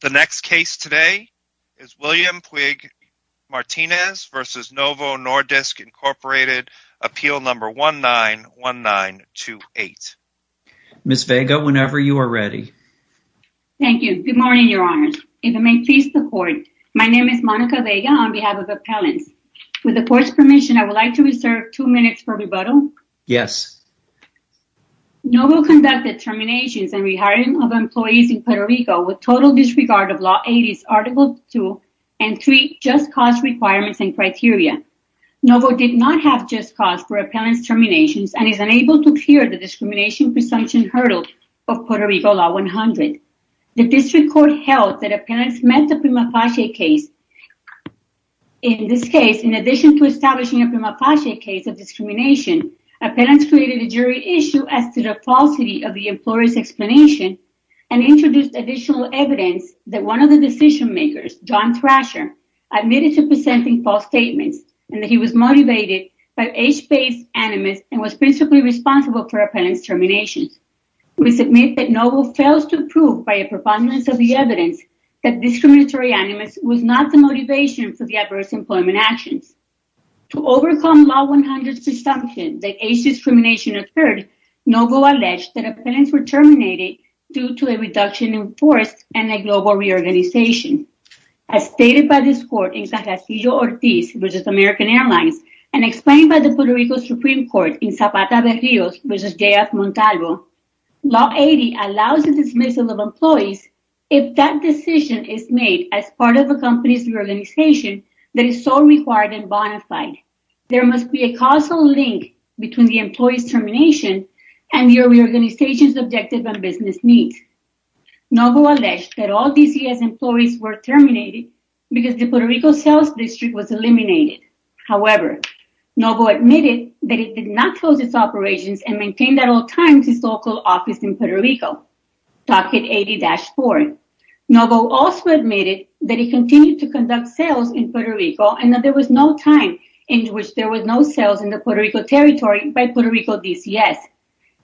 The next case today is William Puig Martinez v. Novo Nordisk Incorporated, appeal number 191928. Ms. Vega, whenever you are ready. Thank you. Good morning, Your Honors. If it may please the court, my name is Monica Vega on behalf of Appellants. With the court's permission, I would like to reserve two minutes for rebuttal. Yes. Novo conducted terminations and rehiring of total disregard of Law 80's Article 2 and 3 Just Cause Requirements and Criteria. Novo did not have just cause for appellant's terminations and is unable to clear the discrimination presumption hurdle of Puerto Rico Law 100. The district court held that appellants met the prima facie case. In this case, in addition to establishing a prima facie case of discrimination, appellants created a jury issue as to the falsity of the employer's explanation and introduced additional evidence that one of the decision makers, John Thrasher, admitted to presenting false statements and that he was motivated by age-based animus and was principally responsible for appellant's terminations. We submit that Novo fails to prove by a profoundness of the evidence that discriminatory animus was not the motivation for the adverse employment actions. To overcome Law 100's presumption that age discrimination occurred, Novo alleged that appellants were terminated due to a reduction in force and a global reorganization. As stated by this court in Castillo-Ortiz v. American Airlines and explained by the Puerto Rico Supreme Court in Zapata-Vergil v. J.F. Montalvo, Law 80 allows the dismissal of employees if that decision is made as part of a company's reorganization that is so required and bona fide. There must be a causal link between the employee's termination and the reorganization's objective and business needs. Novo alleged that all DCS employees were terminated because the Puerto Rico sales district was eliminated. However, Novo admitted that it did not close its operations and maintained at all times its local office in Puerto Rico, Docket 80-4. Novo also admitted that he continued to conduct sales in Puerto Rico and that there was no time in which there was no sales in the Puerto Rico territory by Puerto Rico DCS.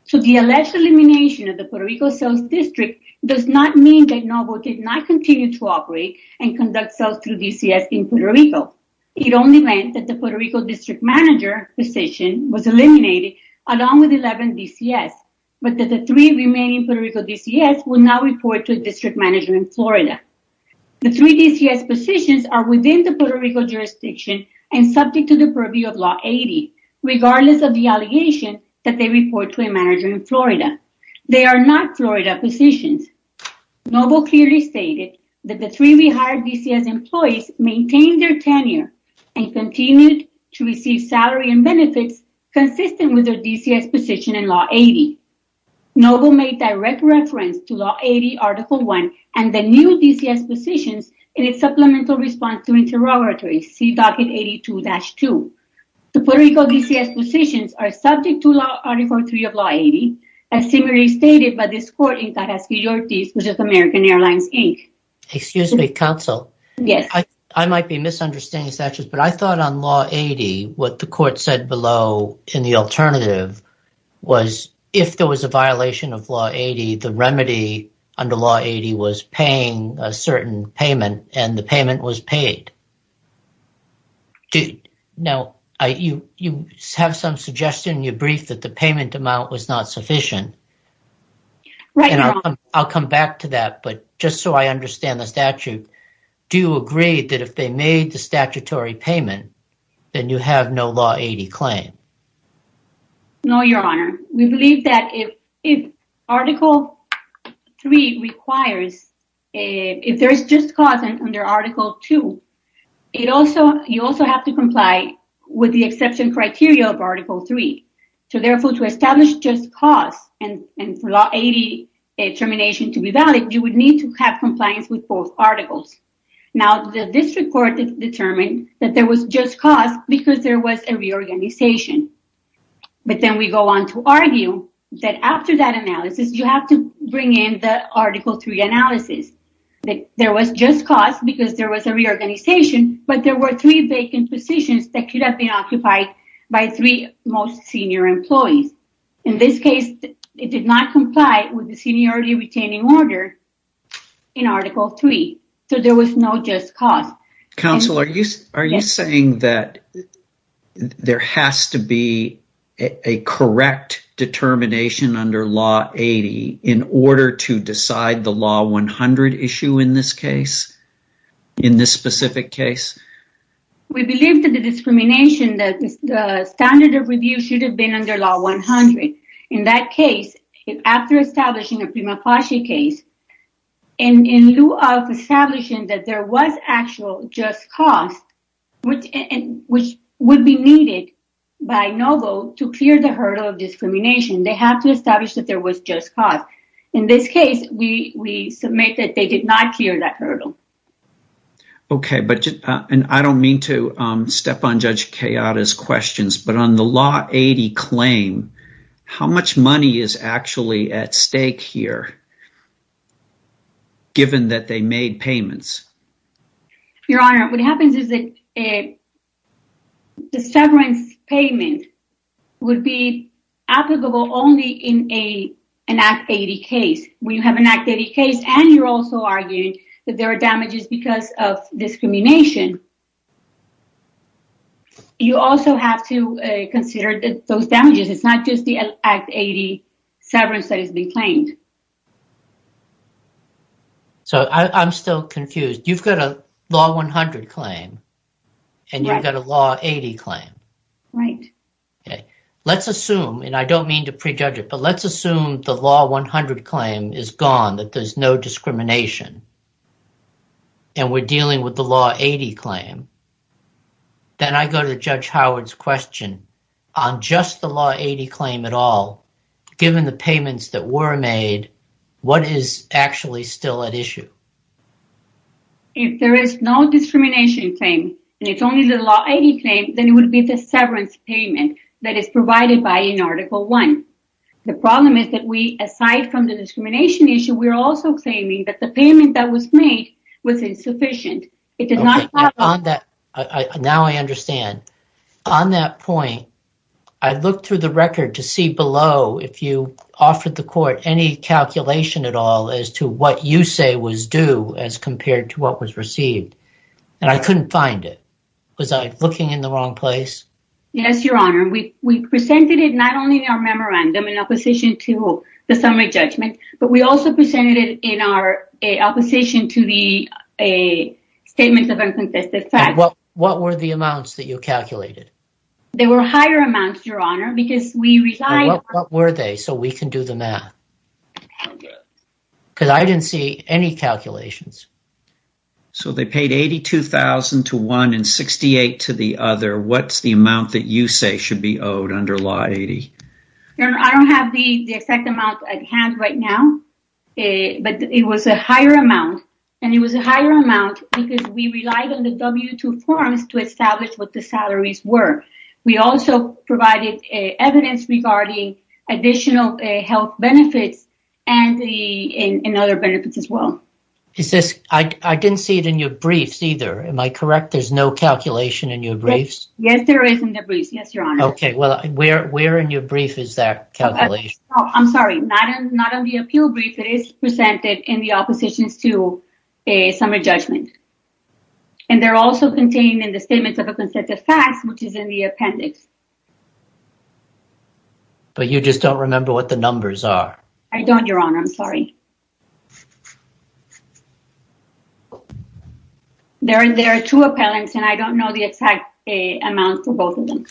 So the alleged elimination of the Puerto Rico sales district does not mean that Novo did not continue to operate and conduct sales through DCS in Puerto Rico. It only meant that the Puerto Rico district manager position was eliminated along with 11 DCS, but that the three remaining Puerto Rico DCS will now report to a district manager in Florida. The three DCS positions are within the Puerto Rico jurisdiction and subject to the purview of Law 80, regardless of the allegation that they report to a manager in Florida. They are not Florida positions. Novo clearly stated that the three rehired DCS employees maintained their tenure and continued to receive salary and benefits consistent with their DCS position in Law 80. Novo made direct reference to Law 80 Article 1 and the new DCS positions in its supplemental response to interrogatory, C Docket 82-2. The Puerto Rico DCS positions are subject to Law Article 3 of Law 80, as similarly stated by this court in Tarasco, York, D.C., which is American Airlines, Inc. Excuse me, counsel. Yes. I might be misunderstanding statutes, but I thought on Law 80 what the court said below in the alternative was if there was a certain payment and the payment was paid. Now, you have some suggestion in your brief that the payment amount was not sufficient. Right. I'll come back to that, but just so I understand the statute, do you agree that if they made the statutory payment, then you have no Law 80 claim? No, Your Honor. We believe that if Article 3 requires, if there is just cause under Article 2, you also have to comply with the exception criteria of Article 3. So, therefore, to establish just cause and for Law 80 termination to be valid, you would need to have compliance with both articles. Now, this report determined that there was just cause because there was a reorganization. But then we go on to argue that after that analysis, you have to bring in the Article 3 analysis, that there was just cause because there was a reorganization, but there were three vacant positions that could have been occupied by three most senior employees. In this case, it did not comply with the seniority retaining order in Article 3. So, there was no just cause. Counselor, are you saying that there has to be a correct determination under Law 80 in order to decide the Law 100 issue in this case, in this specific case? We believe that the discrimination, that the standard of review should have been under Law 100. In that case, after establishing a that there was actual just cause, which would be needed by NOVO to clear the hurdle of discrimination, they have to establish that there was just cause. In this case, we submit that they did not clear that hurdle. Okay, but I don't mean to step on Judge Kayada's questions, but on the Law 80 claim, how much money is actually at stake here, given that they made payments? Your Honor, what happens is that the severance payment would be applicable only in an Act 80 case. When you have an Act 80 case, and you're also arguing that there are damages because of discrimination, you also have to consider those damages. It's not just the Act 80 severance that has been claimed. So, I'm still confused. You've got a Law 100 claim, and you've got a Law 80 claim. Right. Okay, let's assume, and I don't mean to prejudge it, but let's assume the Law 100 claim is gone, that there's no discrimination, and we're dealing with the Law 80 claim. Then, I go to Judge given the payments that were made, what is actually still at issue? If there is no discrimination claim, and it's only the Law 80 claim, then it would be the severance payment that is provided by an Article 1. The problem is that we, aside from the discrimination issue, we are also claiming that the payment that was made was insufficient. Now, I understand. On that point, I looked through the record to see below if you offered the court any calculation at all as to what you say was due as compared to what was received, and I couldn't find it. Was I looking in the wrong place? Yes, Your Honor. We presented it not only in our memorandum in opposition to the summary judgment, but we also presented it in our opposition to the Statement of Unconsensual Facts. What were the amounts, Your Honor? What were they, so we can do the math? Because I didn't see any calculations. So, they paid $82,000 to one and $68,000 to the other. What's the amount that you say should be owed under Law 80? I don't have the exact amount at hand right now, but it was a higher amount, and it was a higher amount because we relied on the W-2 forms to establish what the salaries were. We also provided evidence regarding additional health benefits and other benefits as well. I didn't see it in your briefs either. Am I correct? There's no calculation in your briefs? Yes, there is in the briefs. Yes, Your Honor. Okay, well, where in your brief is that calculation? I'm sorry, not in the appeal brief. It is presented in the opposition's to a summary judgment, and they're also contained in the Statement of Unconsensual Facts, which is in the appendix. But you just don't remember what the numbers are. I don't, Your Honor. I'm sorry. There are two appellants, and I don't know the exact amount for both of them.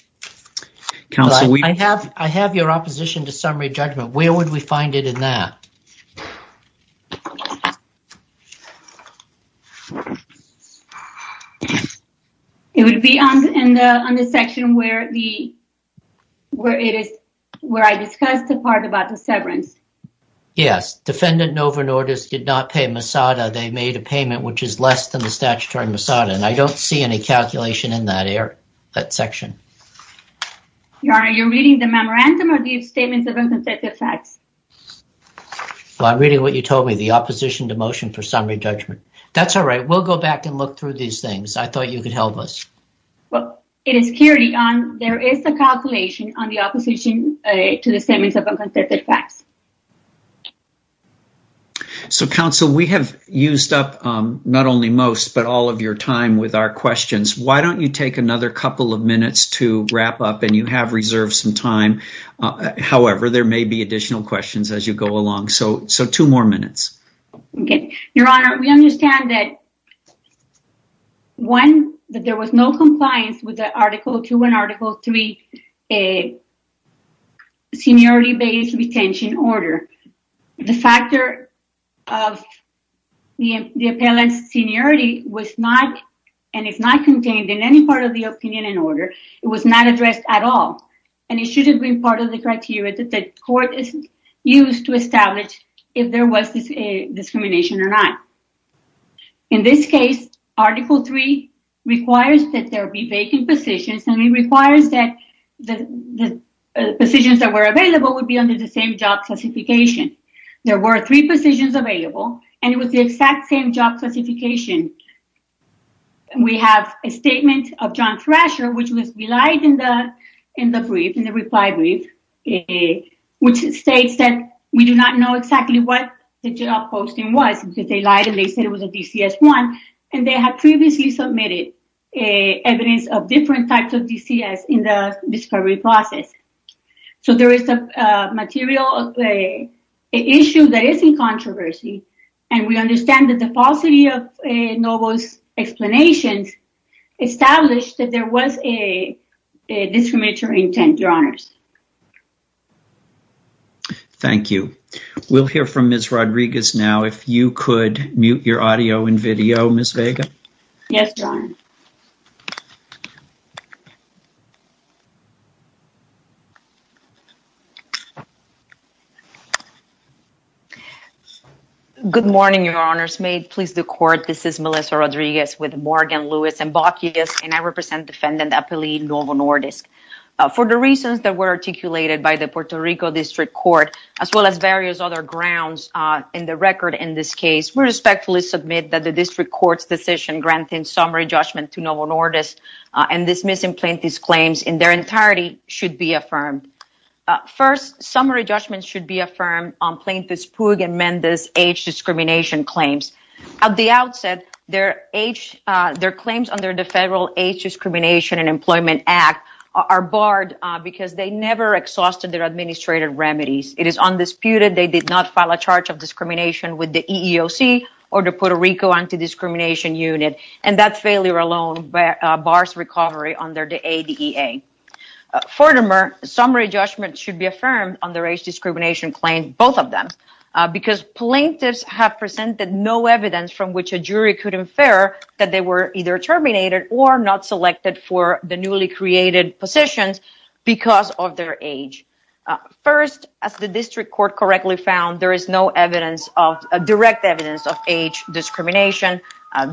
Counsel, I have your opposition to summary judgment. Where would we find it in that? It would be on the section where I discussed the part about the severance. Yes. Defendant Novo Nordisk did not pay Masada. They made a payment which is less than the statutory Masada, and I don't see any calculation in that section. Your Honor, are you reading the memorandum or the Statements of Unconsensual Facts? I'm reading what you told me, the opposition to motion for summary judgment. That's all right. We'll go back and look through these things. I thought you could help us. Well, it is clearly on. There is a calculation on the opposition to the Statements of Unconsensual Facts. So, counsel, we have used up not only most, but all of your time with our questions. Why don't you take another couple of minutes to wrap up, and you have reserved some time. However, there may be additional questions as you go along. So, two more minutes. Okay. Your Honor, we understand that, one, that there was no compliance with the Article 2 and Article 3 seniority-based retention order. The factor of the appellant's seniority was not, and is not contained in any part of the opinion and order. It was not addressed at all, and it shouldn't be part of the criteria that the court is used to establish if there was discrimination or not. In this case, Article 3 requires that there be vacant positions, and it requires that the positions that were available would be under the same job classification. There were three positions available, and it was the exact same job classification. We have a statement of John Thrasher, which was relied in the brief, in the reply brief, which states that we do not know exactly what the job posting was, because they lied and they said it was a DCS-1, and they have previously submitted evidence of different types of DCS in the discovery process. So, there is a material, an issue that is in controversy, and we understand that the falsity of Novo's explanations established that there was a discriminatory intent, Your Honors. Thank you. We'll hear from Ms. Rodriguez now. If you could mute your audio and video, Ms. Vega. Yes, Your Honor. Good morning, Your Honors. May it please the Court, this is Melissa Rodriguez with Morgan, Lewis, and Bokius, and I represent Defendant Appellee Novo Nordisk. For the reasons that were articulated by the Puerto Rico District Court, as well as various other grounds in the record in this case, we respectfully submit that the District Court's decision granting summary judgment to Novo Nordisk and dismissing Plaintiff's claims in their entirety should be affirmed. First, summary judgments should be affirmed on Plaintiff's Pugh and Mendes age discrimination claims. At the outset, their claims under the Federal Age Discrimination and Employment Act are barred because they never exhausted their administrative remedies. It is undisputed they did not file a charge of discrimination with the EEOC or the Puerto Rico Anti-Discrimination Unit, and that failure alone bars recovery under the ADA. Furthermore, summary judgments should be affirmed on their age discrimination claims, both of them, because plaintiffs have presented no evidence from which a jury could infer that they were either terminated or not selected for the newly created positions because of their age. First, as the District Court correctly found, there is no direct evidence of age discrimination.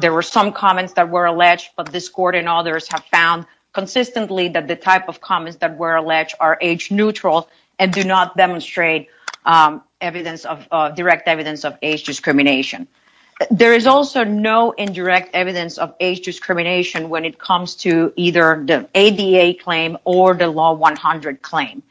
There were some comments that were alleged, but this Court and others have found consistently that the type of comments that were alleged are age-neutral and do not demonstrate direct evidence of age discrimination. There is also no indirect evidence of age discrimination when it comes to either the ADA claim or the Law 100 claim.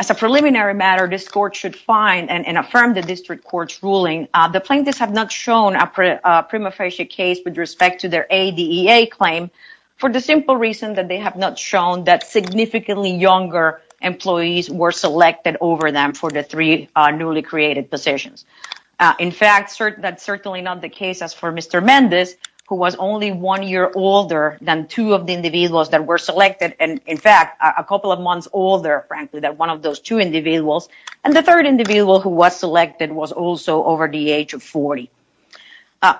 As a preliminary matter, this Court should find and affirm the District Court's ruling. The plaintiffs have not shown a prima facie case with respect to their ADA claim for the simple reason that they have not shown that significantly younger employees were selected over them for the three newly created positions. In fact, that's certainly not the case as for Mr. Mendez, who was only one year older than two of the individuals that were selected, and in fact a couple of months older, frankly, than one of those two individuals, and the third individual who was selected was also over the age of 40.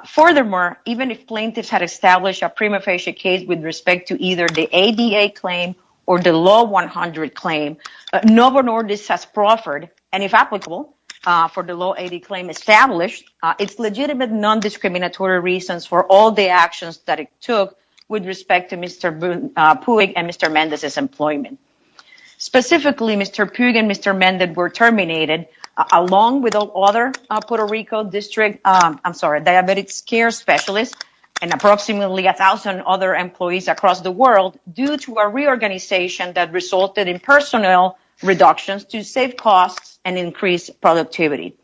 Furthermore, even if plaintiffs had established a ADA claim or the Law 100 claim, no one or this has proffered, and if applicable for the Law 80 claim established, it's legitimate non-discriminatory reasons for all the actions that it took with respect to Mr. Puig and Mr. Mendez's employment. Specifically, Mr. Puig and Mr. Mendez were terminated along with all other Puerto Rico Diabetes Care Specialists and approximately 1,000 other employees across the world due to a reorganization that resulted in personnel reductions to save costs and increase productivity.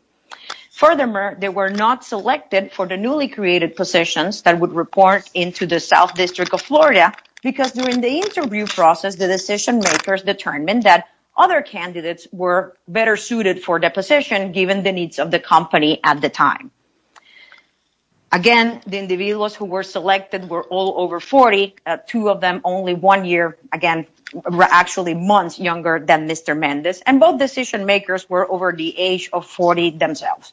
Furthermore, they were not selected for the newly created positions that would report into the South District of Florida because during the interview process, the decision makers determined that other candidates were better suited for the position given the needs of the company at the time. Again, the individuals who were selected were all over 40, two of them only one year, again, actually months younger than Mr. Mendez, and both decision makers were over the age of 40 themselves.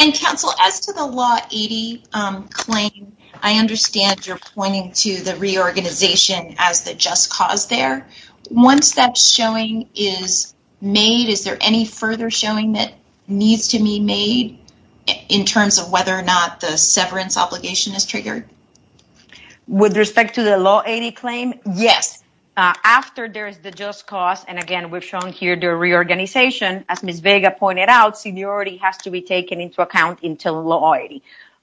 And counsel, as to the Law 80 claim, I understand you're pointing to the reorganization as the just cause there. Once that showing is made, is there any further showing that needs to be made in terms of whether or not a reorganization is triggered? With respect to the Law 80 claim, yes. After there is the just cause, and again we've shown here the reorganization, as Ms. Vega pointed out, seniority has to be taken into account until Law 80.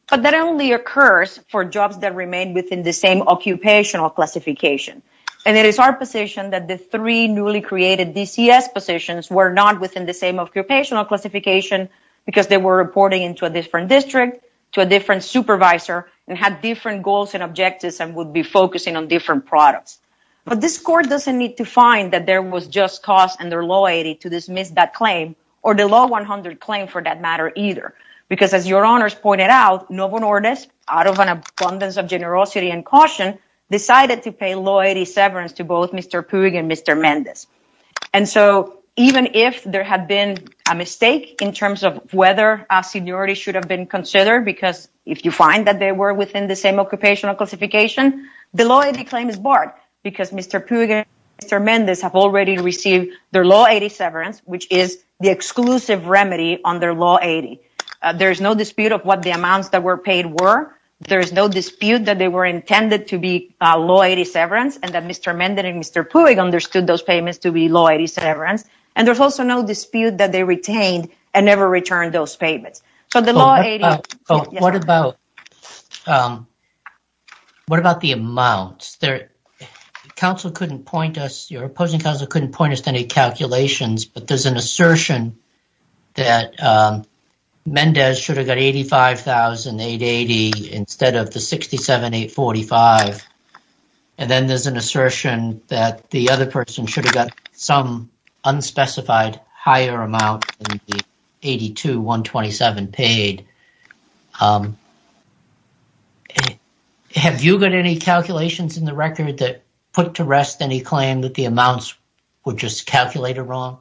But that only occurs for jobs that remain within the same occupational classification. And it is our position that the three newly created DCS positions were not within the same occupational classification because they were reporting into a different district, to a different supervisor, and had different goals and objectives and would be focusing on different products. But this court doesn't need to find that there was just cause under Law 80 to dismiss that claim, or the Law 100 claim for that matter either. Because as your honors pointed out, no one orders, out of an abundance of generosity and caution, decided to pay Law 80 severance to both Mr. Pugh and Mr. Mendez. And so even if there had been a mistake in terms of whether seniority should have been considered, because if you find that they were within the same occupational classification, the Law 80 claim is barred. Because Mr. Pugh and Mr. Mendez have already received their Law 80 severance, which is the exclusive remedy on their Law 80. There is no dispute of what the amounts that were paid were. There is no dispute that they were intended to be Law 80 severance, and that Mr. Mendez and Mr. Pugh understood those payments to be Law 80 severance. And there's also no dispute that they retained and never returned those payments. So the Law 80... What about, what about the amounts? The council couldn't point us, your opposing counsel couldn't point us to any calculations, but there's an assertion that Mendez should have got $85,880 instead of the $67,845, and then there's an assertion that the other person should have got some unspecified higher amount than the $82,127 paid. Have you got any calculations in the record that put to rest any claim that the amounts were just calculated wrong?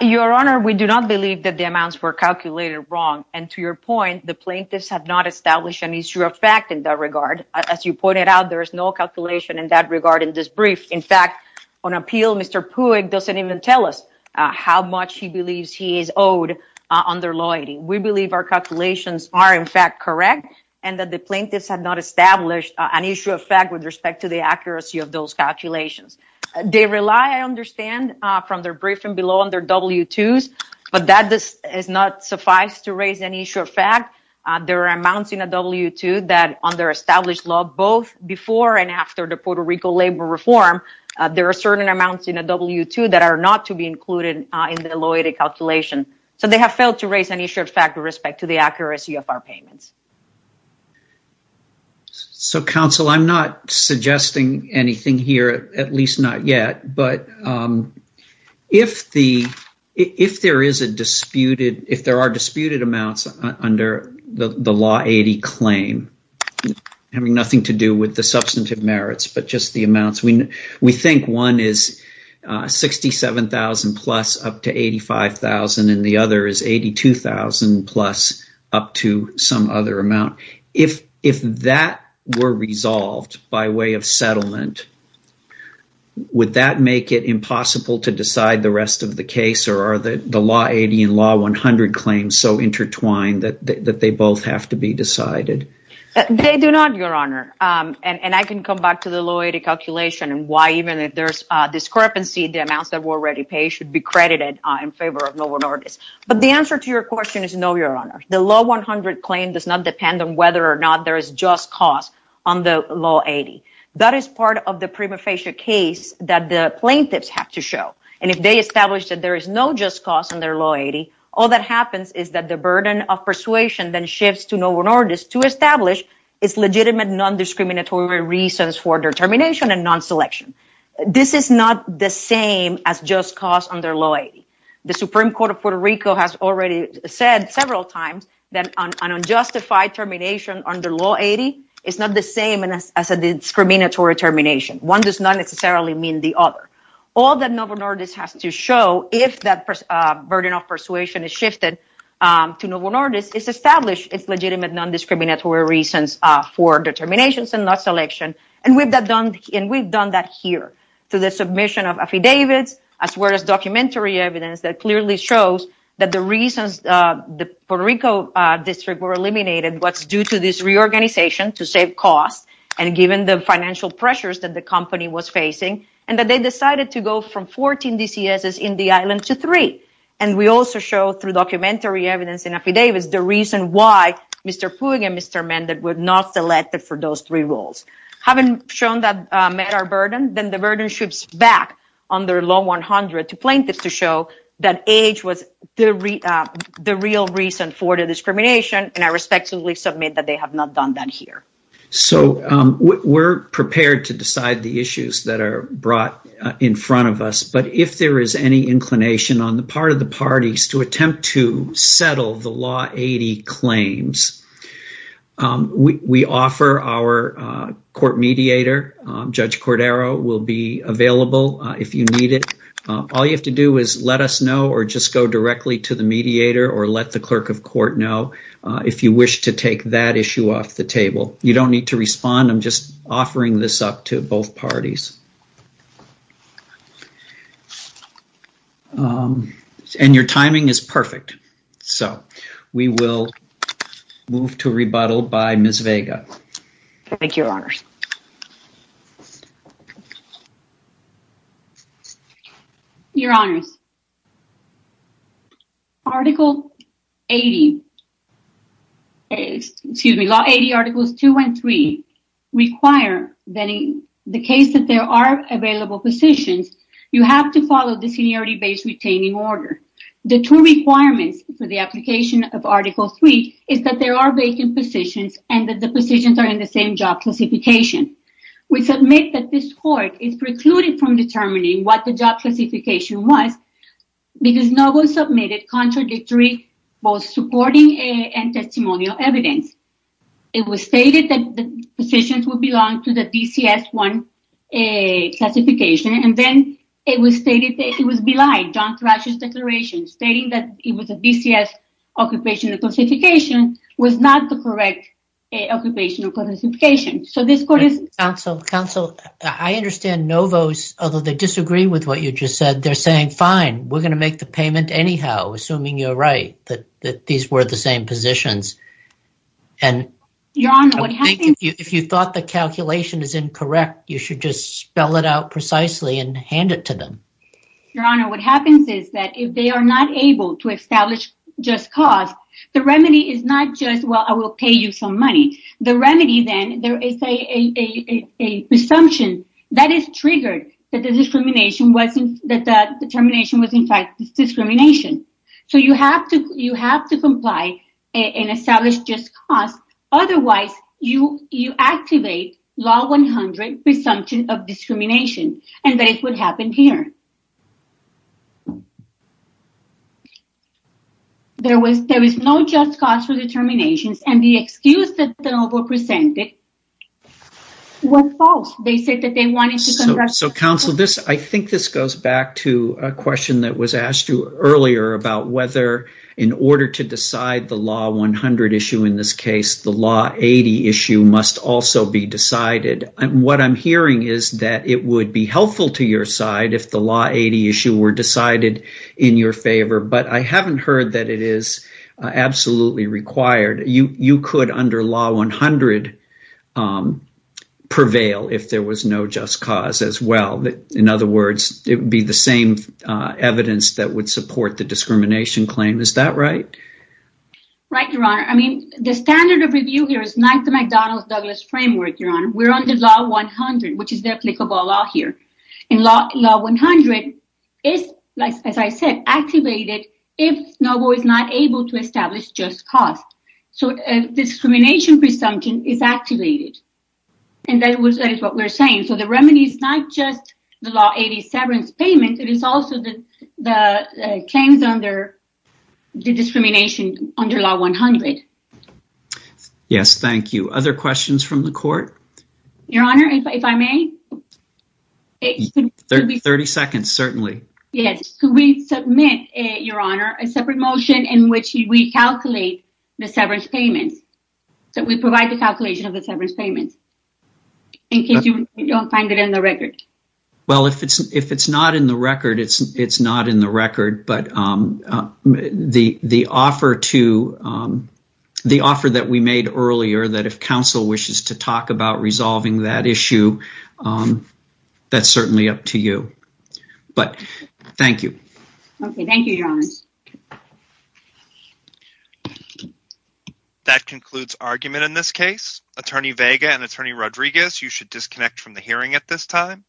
Your Honor, we do not believe that the amounts were calculated wrong, and to your point, the plaintiffs have not established an issue of fact in that regard. As you pointed out, there is no calculation in that regard in this brief. In fact, on appeal, Mr. Pugh doesn't even tell us how much he believes he is owed under Law 80. We believe our calculations are in fact correct, and that the plaintiffs have not established an issue of fact with respect to the accuracy of those calculations. They rely, I understand, from their briefing below on their W-2s, but that does not suffice to raise an issue of fact. There are amounts in a W-2 that under established law, both before and after the Puerto Rico labor reform, there are certain amounts in a W-2 that are not to be included in the loyalty calculation, so they have failed to raise any issue of fact with respect to the accuracy of our payments. So counsel, I'm not suggesting anything here, at least not yet, but if there are disputed amounts under the Law 80 claim, having nothing to do with the substantive merits, but just the amounts, we think one is $67,000 plus up to $85,000, and the other is $82,000 plus up to some other amount. If that were resolved by way of settlement, would that make it impossible to decide the rest of the case, or are the Law 80 and Law 100 claims so intertwined that they both have to be decided? They do not, Your Honor. The Law 100 claim does not depend on whether or not there is just cause on the Law 80. That is part of the prima facie case that the plaintiffs have to show, and if they establish that there is no just cause under Law 80, all that happens is that the burden of persuasion then shifts to no minorities to establish its legitimate non-discriminatory reasons for determination and non-selection. This is not the same as just cause under Law 80. The Supreme Court of Puerto Rico has already said several times that an unjustified termination under Law 80 is not the same as a discriminatory termination. One does not necessarily mean the other. All that no minorities has to show, if that burden of persuasion is shifted to no minorities, is to establish its legitimate non-discriminatory reasons for determinations and not selection. And we've done that here, through the submission of affidavits, as well as documentary evidence that clearly shows that the reasons the Puerto Rico district were eliminated was due to this reorganization to save costs, and given the financial pressures that the company was facing, and that they decided to go from 14 DCSs in the island to three. And we also show through documentary evidence and affidavits the reason why Mr. Pug and Mr. Mendez were not selected for those three roles. Having shown that met our burden, then the burden shifts back under Law 100 to plaintiffs to show that age was the real reason for the discrimination, and I respectfully submit that they have not done that here. So we're prepared to decide the issues that are brought in front of us, but if there is any inclination on the part of parties to attempt to settle the Law 80 claims, we offer our court mediator, Judge Cordero will be available if you need it. All you have to do is let us know or just go directly to the mediator or let the clerk of court know if you wish to take that issue off the table. You don't need to respond, I'm just offering this up to both parties. And your timing is perfect, so we will move to rebuttal by Ms. Vega. Thank you, Your Honors. Your Honors, Article 80, excuse me, Law 80 Articles 2 and 3 require that in the case that there are available positions, you have to follow the seniority-based retaining order. The two requirements for the application of Article 3 is that there are vacant positions and that the positions are in the same job classification. We submit that this court is precluded from determining what the job classification was because no one submitted contradictory, both supporting and testimonial evidence. It was stated that the positions would belong to the DCS-1 classification and then it was stated that it was belied. John Thrash's declaration stating that it was a DCS occupational classification was not the correct occupational classification. So this court is... Counsel, Counsel, I understand Novo's, although they disagree with what you just said, they're saying, fine, we're gonna make the payment anyhow, assuming you're right, that these were the same positions and... Your Honor, what happens... I think if you thought the calculation is incorrect, you should just spell it out precisely and hand it to them. Your Honor, what happens is that if they are not able to establish just cause, the remedy is not just, well, I will pay you some money. The remedy then, there is a presumption that is triggered that the determination was in fact discrimination. So you have to, you have to comply and establish just cause, otherwise you, you activate Law 100 presumption of discrimination and that is what happened here. There was, there is no just cause for determinations and the excuse that the Novo presented was false. They said that they wanted to... So Counsel, this, I think this goes back to a question that was asked you earlier about whether, in order to decide the Law 100 issue in this case, the Law 80 issue must also be decided. And what I'm hearing is that it would be helpful to your side if the Law 80 issue were decided in your favor, but I haven't heard that it is absolutely required. You, you could, under Law 100, prevail if there was no just cause as well. In other words, it would be the same evidence that would support the discrimination claim. Is that right? Right, Your Honor. I mean, the standard of review here is not the McDonald's-Douglas framework, Your Honor. We're under Law 100, which is the applicable law here. And Law 100 is, as I said, activated if Novo is not able to establish just cause. So discrimination presumption is activated. And that was, that is what we're saying. So the remedy is not just the Law 80 severance payment, it is also the claims under the discrimination under Law 100. Yes, thank you. Other questions from the court? Your Honor, if I may? 30 seconds, certainly. Yes. Could we submit, Your Honor, a separate motion in which we calculate the severance payment, in case you don't find it in the record? Well, if it's, if it's not in the record, it's, it's not in the record. But the, the offer to, the offer that we made earlier, that if counsel wishes to talk about resolving that issue, that's certainly up to you. But thank you. Okay, thank you, Your Honor. Attorney Vega and Attorney Rodriguez, you should disconnect from the hearing at this time.